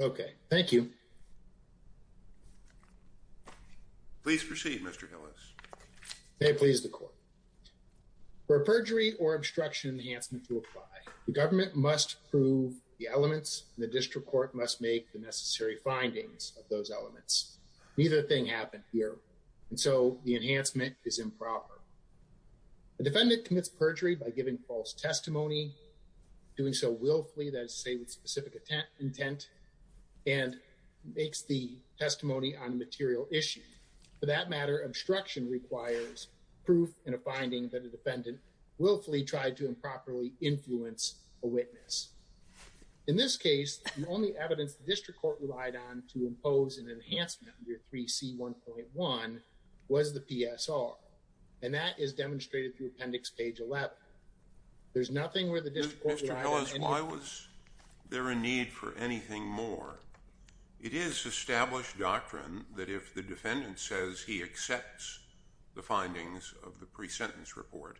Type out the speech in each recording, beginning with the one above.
Okay, thank you Please proceed mr. Hillis They please the court For a perjury or obstruction enhancement to apply the government must prove the elements The district court must make the necessary findings of those elements. Neither thing happened here. And so the enhancement is improper The defendant commits perjury by giving false testimony Doing so willfully that say with specific intent intent and Makes the testimony on material issue for that matter obstruction requires proof and a finding that a defendant Willfully tried to improperly influence a witness In this case the only evidence the district court relied on to impose an enhancement under 3c 1.1 Was the PSR and that is demonstrated through appendix page 11 There's nothing where the district They're in need for anything more It is established doctrine that if the defendant says he accepts the findings of the pre-sentence report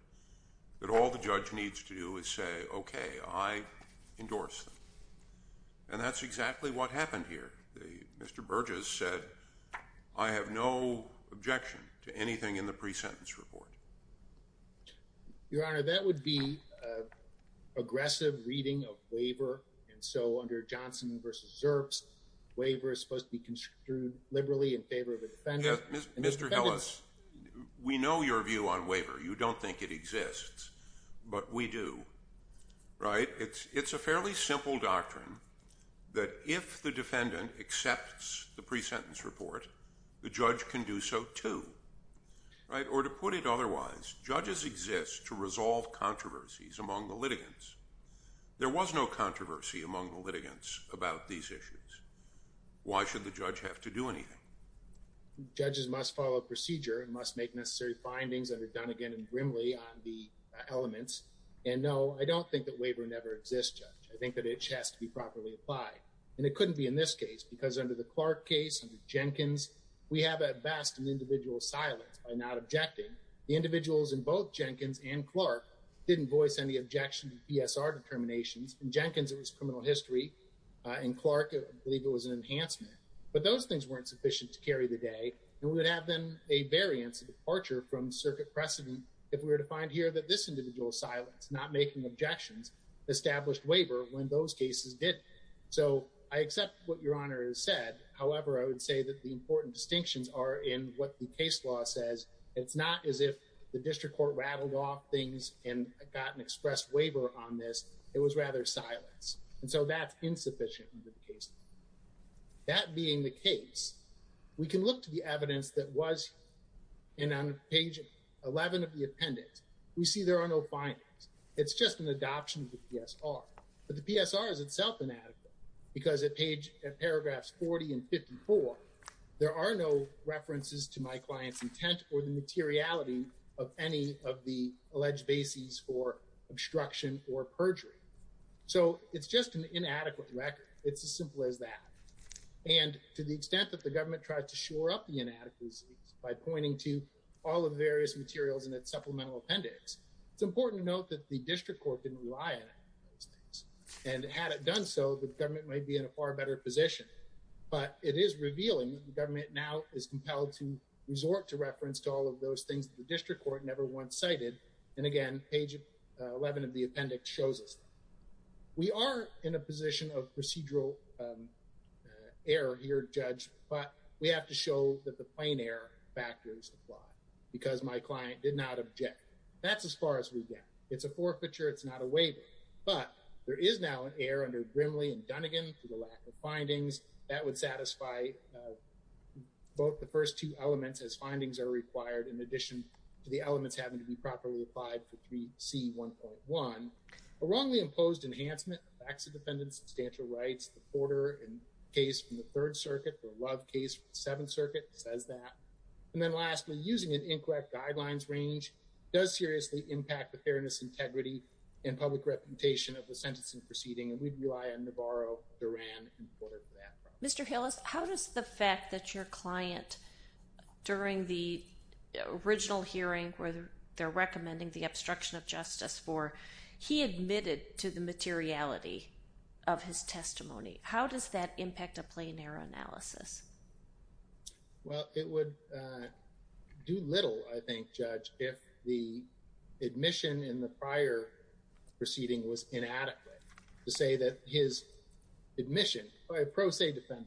That all the judge needs to do is say, okay, I endorse them and That's exactly what happened here. The mr. Burgess said I have no objection to anything in the pre-sentence report Your honor that would be Aggressive reading of waiver and so under Johnson versus herbs Waiver is supposed to be construed liberally in favor of the defendants. Mr. Ellis We know your view on waiver. You don't think it exists, but we do Right. It's it's a fairly simple doctrine that if the defendant accepts the pre-sentence report The judge can do so too Right or to put it otherwise judges exist to resolve controversies among the litigants There was no controversy among the litigants about these issues Why should the judge have to do anything? Judges must follow procedure and must make necessary findings that are done again and grimly on the elements And no, I don't think that waiver never exists I think that it has to be properly applied and it couldn't be in this case because under the Clark case Jenkins we have at best an individual silence by not objecting the individuals in both Jenkins and Clark Didn't voice any objection PSR determinations and Jenkins. It was criminal history In Clark, I believe it was an enhancement but those things weren't sufficient to carry the day and would have been a Variance departure from circuit precedent if we were to find here that this individual silence not making objections Established waiver when those cases did so I accept what your honor has said However, I would say that the important distinctions are in what the case law says It's not as if the district court rattled off things and got an express waiver on this It was rather silence. And so that's insufficient with the case That being the case We can look to the evidence that was in on page 11 of the appendix. We see there are no findings It's just an adoption of the PSR But the PSR is itself inadequate because at page at paragraphs 40 and 54 there are no references to my clients intent or the materiality of any of the alleged bases for obstruction or perjury So it's just an inadequate record. It's as simple as that And to the extent that the government tries to shore up the inadequacies by pointing to all of the various materials in its supplemental appendix It's important to note that the district court didn't rely on And had it done so the government may be in a far better position But it is revealing the government now is compelled to resort to reference to all of those things the district court never once cited And again page 11 of the appendix shows us We are in a position of procedural Error here judge, but we have to show that the plane air factors apply because my client did not object That's as far as we get. It's a forfeiture It's not a waiver, but there is now an air under Grimley and Dunnigan for the lack of findings that would satisfy Both the first two elements as findings are required in addition to the elements having to be properly applied to 3c 1.1 a wrongly imposed enhancement of acts of defendants substantial rights the Porter and Case from the Third Circuit or Love case from the Seventh Circuit says that and then lastly using an incorrect guidelines range Does seriously impact the fairness integrity and public reputation of the sentencing proceeding and we'd rely on Navarro Duran? Mr. Hillis, how does the fact that your client? during the original hearing where they're recommending the obstruction of justice for he admitted to the materiality of His testimony, how does that impact a plane air analysis? well, it would Do little I think judge if the admission in the prior Proceeding was inadequate to say that his Admission by a pro se defense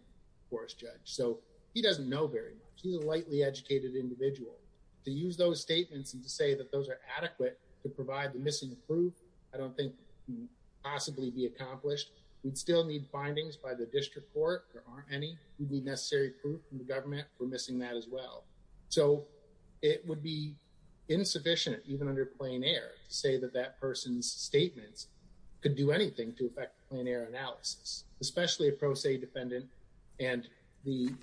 force judge, so he doesn't know very much He's a lightly educated individual to use those statements and to say that those are adequate to provide the missing proof I don't think Possibly be accomplished. We'd still need findings by the district court Any necessary government we're missing that as well, so it would be Insufficient even under plane air to say that that person's statements could do anything to affect plane air analysis especially a pro se defendant and The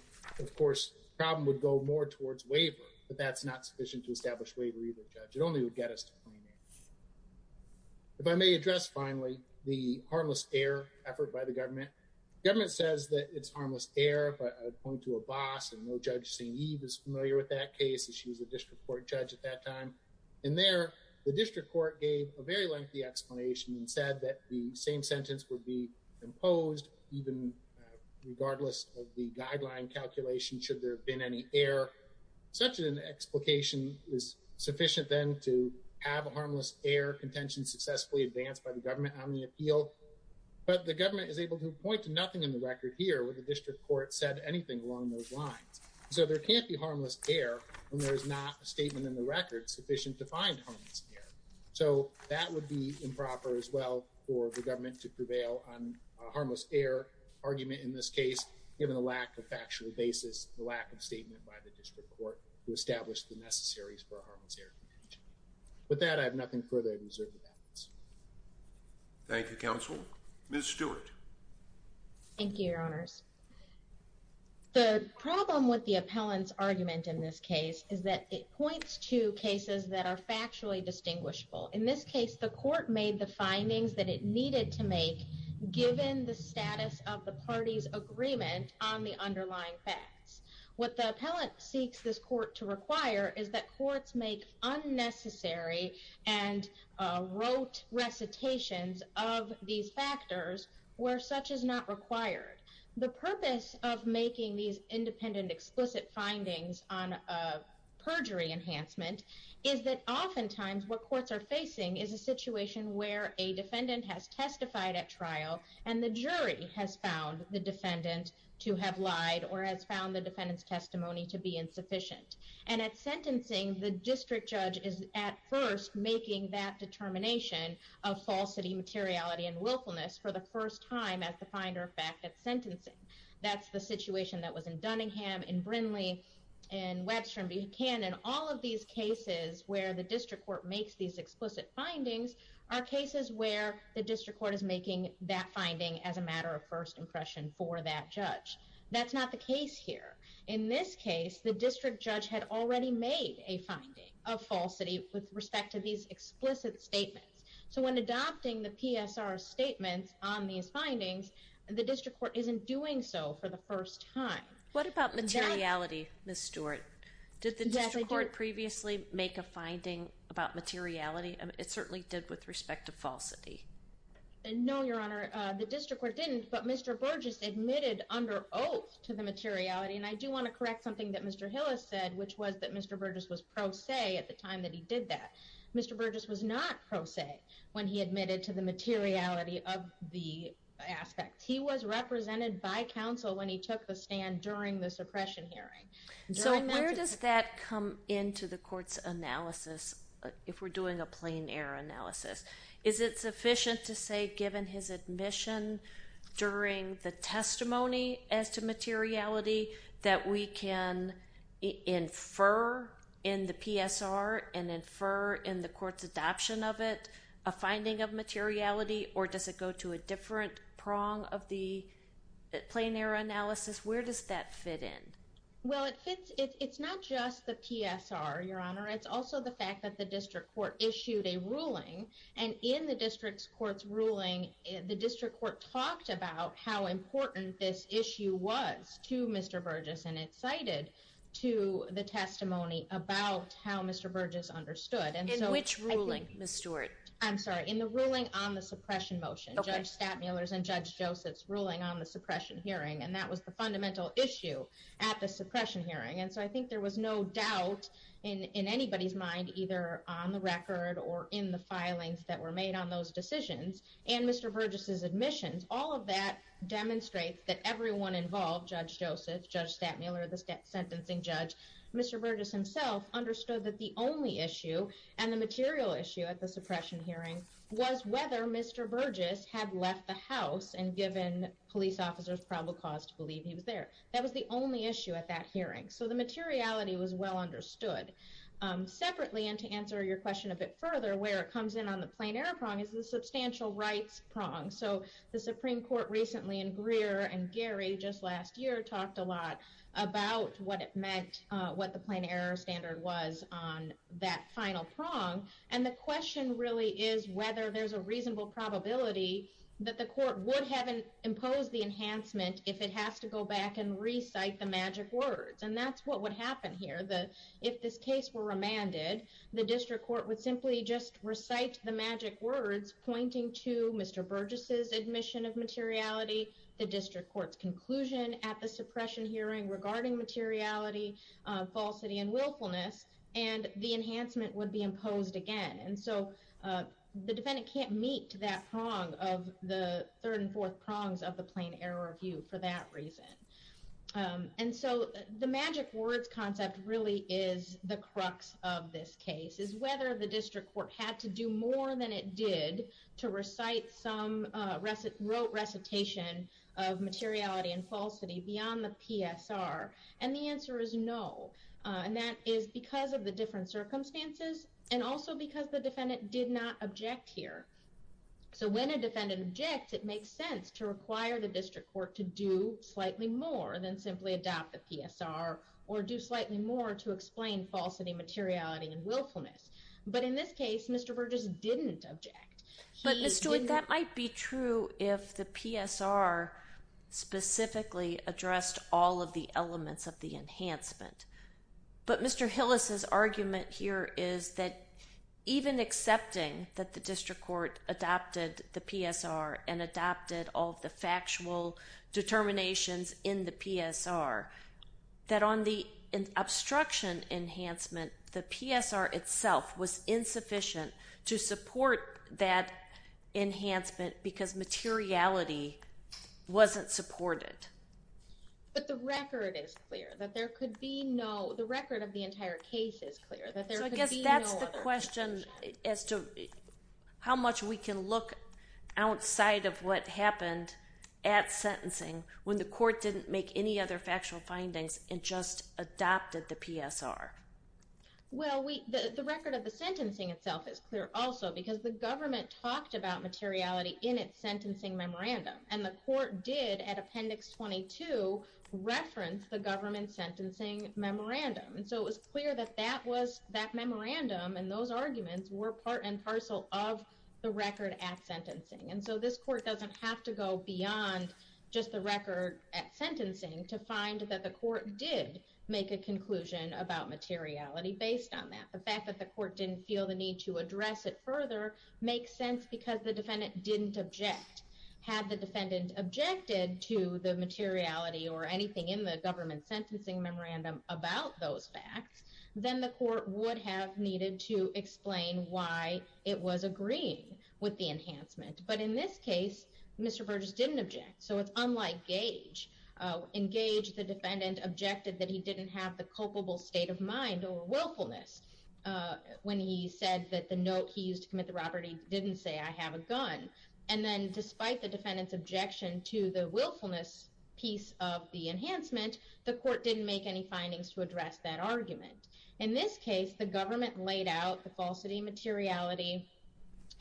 of course problem would go more towards waiver, but that's not sufficient to establish waver either judge. It only would get us to If I may address finally the harmless air effort by the government Government says that it's harmless air Point to a boss and no judge saying Eve is familiar with that case She was a district court judge at that time and there the district court gave a very lengthy Explanation and said that the same sentence would be imposed even Regardless of the guideline calculation should there have been any air Such an explication is sufficient then to have a harmless air contention successfully advanced by the government on the appeal But the government is able to point to nothing in the record here with the district court said anything along those lines So there can't be harmless air and there is not a statement in the record sufficient to find So that would be improper as well for the government to prevail on harmless air Argument in this case given the lack of factually basis the lack of statement by the district court who established the necessaries for our With that I have nothing further to say Thank You counsel miss Stewart Thank You your honors The problem with the appellant's argument in this case is that it points to cases that are factually Distinguishable in this case the court made the findings that it needed to make Given the status of the party's agreement on the underlying facts what the appellant seeks this court to require is that courts? make Unnecessary and wrote recitations of these factors where such is not required the purpose of making these independent explicit findings on a perjury enhancement is that oftentimes what courts are facing is a situation where a Defendant has testified at trial and the jury has found the defendant To have lied or has found the defendants testimony to be insufficient and at sentencing The district judge is at first making that determination of falsity materiality and willfulness for the first time as the finder of fact at sentencing that's the situation that was in Dunningham in Brindley and Webster and Buchanan all of these cases where the district court makes these explicit findings are Cases where the district court is making that finding as a matter of first impression for that judge That's not the case here in this case The district judge had already made a finding of falsity with respect to these explicit statements So when adopting the PSR statements on these findings the district court isn't doing so for the first time What about materiality miss Stewart did the judge report previously make a finding about materiality? It certainly did with respect to falsity No, your honor the district court didn't but mr. Burgess admitted under oath to the materiality and I do want to correct something that mr Hillis said which was that mr. Burgess was pro se at the time that he did that mr. Burgess was not pro se when he admitted to the materiality of the Aspect he was represented by counsel when he took the stand during the suppression hearing So where does that come into the courts analysis if we're doing a plain-air analysis? Is it sufficient to say given his admission? during the testimony as to materiality that we can infer in the PSR and infer in the courts adoption of it a Finding of materiality or does it go to a different prong of the? Plain-air analysis, where does that fit in? Well, it fits. It's not just the PSR your honor It's also the fact that the district court issued a ruling and in the district's courts ruling the district court talked about how Important this issue was to mr. Burgess and it cited to the testimony about how mr Burgess understood and so which ruling miss Stewart I'm sorry in the ruling on the suppression motion judge stat Mueller's and judge Joseph's ruling on the suppression hearing and that was the fundamental Issue at the suppression hearing and so I think there was no doubt in Anybody's mind either on the record or in the filings that were made on those decisions and mr Burgess's admissions all of that Demonstrates that everyone involved judge Joseph judge stat Mueller the state sentencing judge. Mr Burgess himself understood that the only issue and the material issue at the suppression hearing was whether mr Burgess had left the house and given police officers probable cause to believe he was there That was the only issue at that hearing. So the materiality was well understood Separately and to answer your question a bit further where it comes in on the plain-air prong is the substantial rights prong So the Supreme Court recently in Greer and Gary just last year talked a lot about What it meant what the plain-air standard was on that final prong and the question really is whether there's a reasonable Probability that the court would haven't imposed the enhancement if it has to go back and recite the magic words And that's what would happen here The if this case were remanded the district court would simply just recite the magic words pointing to mr Burgess's admission of materiality the district courts conclusion at the suppression hearing regarding materiality falsity and willfulness and the enhancement would be imposed again and so The defendant can't meet to that prong of the third and fourth prongs of the plain-air review for that reason and so the magic words concept really is the crux of this case is whether the district court had to do more than It did to recite some recit wrote recitation of Materiality and falsity beyond the PSR and the answer is no And that is because of the different circumstances and also because the defendant did not object here So when a defendant object it makes sense to require the district court to do Slightly more than simply adopt the PSR or do slightly more to explain falsity materiality and willfulness But in this case, mr. Burgess didn't object but mr. That might be true if the PSR Specifically addressed all of the elements of the enhancement But mr. Hillis's argument here is that even accepting that the district court adopted the PSR? And adopted all the factual determinations in the PSR that on the obstruction enhancement the PSR itself was insufficient to support that enhancement because materiality Wasn't supported But the record is clear that there could be no the record of the entire case is clear that there's a guess That's the question as to how much we can look outside of what happened at Sentencing when the court didn't make any other factual findings and just adopted the PSR Well, we the record of the sentencing itself is clear also because the government talked about materiality in its sentencing memorandum And the court did at appendix 22 reference the government sentencing Memorandum and so it was clear that that was that memorandum and those arguments were part and parcel of the record at Sentencing and so this court doesn't have to go beyond just the record at sentencing to find that the court did Make a conclusion about materiality based on that the fact that the court didn't feel the need to address it further Makes sense because the defendant didn't object had the defendant Objected to the materiality or anything in the government sentencing memorandum about those facts Then the court would have needed to explain why it was agreeing with the enhancement But in this case, Mr. Burgess didn't object. So it's unlike Gage In Gage the defendant objected that he didn't have the culpable state of mind or willfulness When he said that the note he used to commit the robbery didn't say I have a gun and then despite the defendant's objection To the willfulness piece of the enhancement the court didn't make any findings to address that argument in this case The government laid out the falsity materiality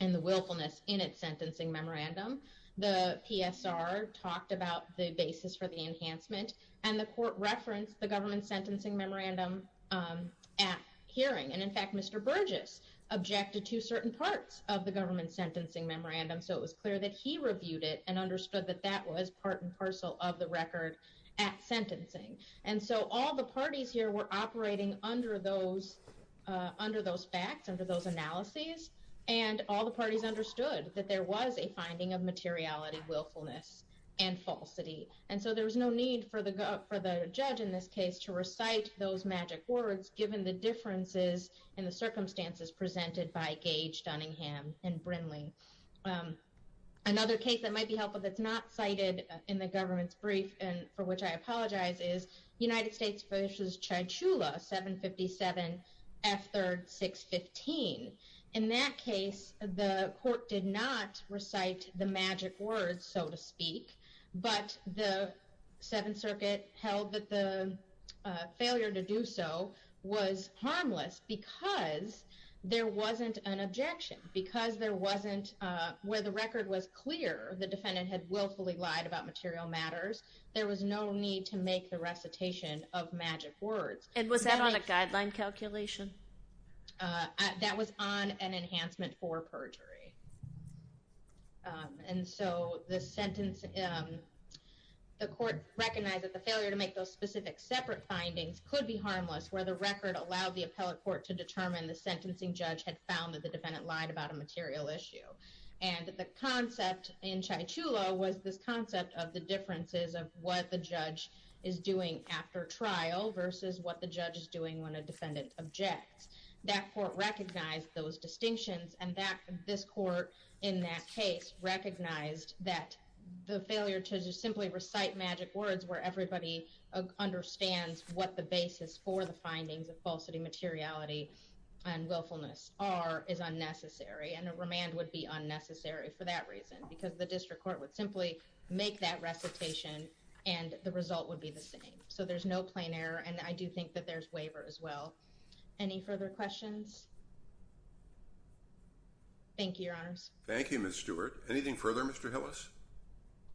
and the willfulness in its sentencing memorandum The PSR talked about the basis for the enhancement and the court referenced the government's sentencing memorandum At hearing and in fact, Mr. Burgess Objected to certain parts of the government sentencing memorandum So it was clear that he reviewed it and understood that that was part and parcel of the record at sentencing And so all the parties here were operating under those under those facts under those analyses and all the parties understood that there was a finding of materiality willfulness and And so there was no need for the judge in this case to recite those magic words given the Differences in the circumstances presented by Gage, Dunningham, and Brindley Another case that might be helpful that's not cited in the government's brief and for which I apologize is United States vs Chai Chula 757 F 3rd 615 in that case the court did not recite the magic words so to speak but the Seventh Circuit held that the failure to do so was harmless because There wasn't an objection because there wasn't where the record was clear The defendant had willfully lied about material matters There was no need to make the recitation of magic words and was that on a guideline calculation? That was on an enhancement for perjury And so the sentence The court recognized that the failure to make those specific separate findings could be harmless where the record allowed the appellate court to determine the Sentencing judge had found that the defendant lied about a material issue And the concept in Chai Chula was this concept of the differences of what the judge is Doing after trial versus what the judge is doing when a defendant objects that court recognized those Distinctions and that this court in that case recognized that the failure to just simply recite magic words where everybody understands what the basis for the findings of falsity materiality and Willfulness are is unnecessary and a remand would be unnecessary for that reason because the district court would simply make that recitation And the result would be the same so there's no plain error, and I do think that there's waiver as well any further questions Thank you your honors Thank You mr. Stewart anything further mr. Hillis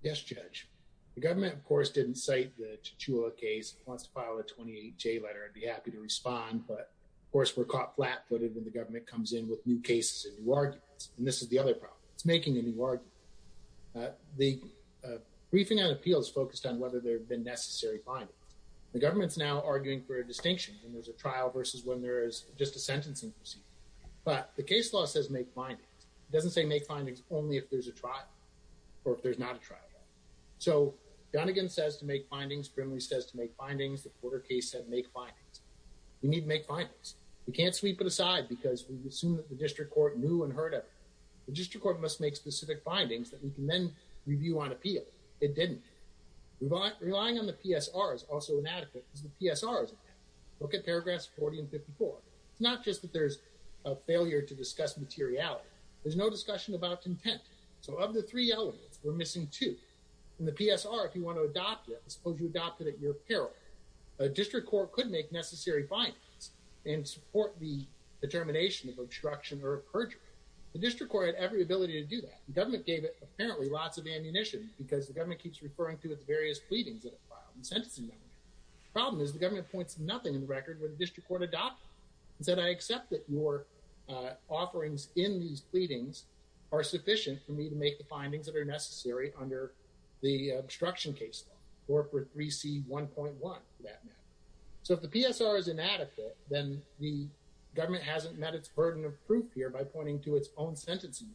Yes, judge the government of course didn't cite the Chai Chula case wants to file a 28 J letter I'd be happy to respond but of course we're caught flat-footed when the government comes in with new cases and new arguments And this is the other problem. It's making a new argument the Briefing and appeals focused on whether there have been necessary findings the government's now arguing for a distinction And there's a trial versus when there is just a sentencing proceeding, but the case law says make findings It doesn't say make findings only if there's a trial or if there's not a trial So Donegan says to make findings Brimley says to make findings the Porter case said make findings We need to make findings We can't sweep it aside because we assume that the district court knew and heard of The district court must make specific findings that we can then review on appeal it didn't Relying on the PSR is also inadequate as the PSRs look at paragraphs 40 and 54 It's not just that there's a failure to discuss materiality. There's no discussion about content So of the three elements we're missing two in the PSR if you want to adopt it suppose you adopted at your peril a district court could make necessary findings and support the Determination of obstruction or a perjury the district court had every ability to do that The government gave it apparently lots of ammunition because the government keeps referring to its various pleadings Problem is the government points nothing in the record when the district court adopted said I accept that your offerings in these pleadings are sufficient for me to make the findings that are necessary under the obstruction case law or for 3c 1.1 that So if the PSR is inadequate, then the government hasn't met its burden of proof here by pointing to its own sentencing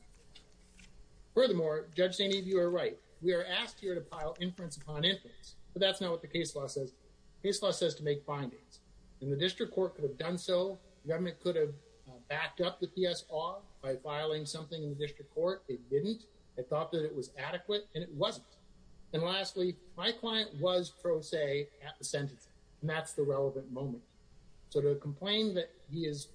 Furthermore judge saying if you are right, we are asked here to pile inference upon inference But that's not what the case law says This law says to make findings in the district court could have done so government could have backed up the PSR By filing something in the district court. It didn't I thought that it was adequate and it wasn't And lastly my client was pro se at the sentence and that's the relevant moment So to complain that he has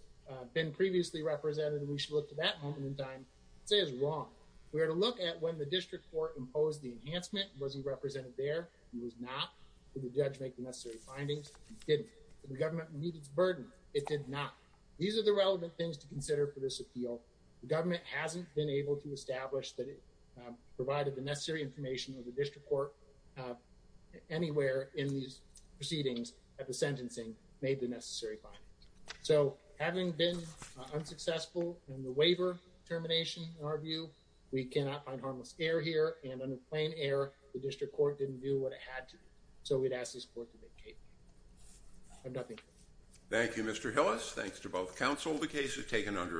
been previously represented and we should look to that moment in time We were to look at when the district court imposed the enhancement was he represented there He was not the judge make the necessary findings didn't the government need its burden It did not these are the relevant things to consider for this appeal. The government hasn't been able to establish that it Provided the necessary information of the district court Anywhere in these proceedings at the sentencing made the necessary So having been unsuccessful and the waiver Termination our view we cannot find harmless air here and under plain air the district court didn't do what it had to So we'd ask this court to vacate I'm nothing Thank You. Mr. Hillis. Thanks to both counsel. The case is taken under adjournment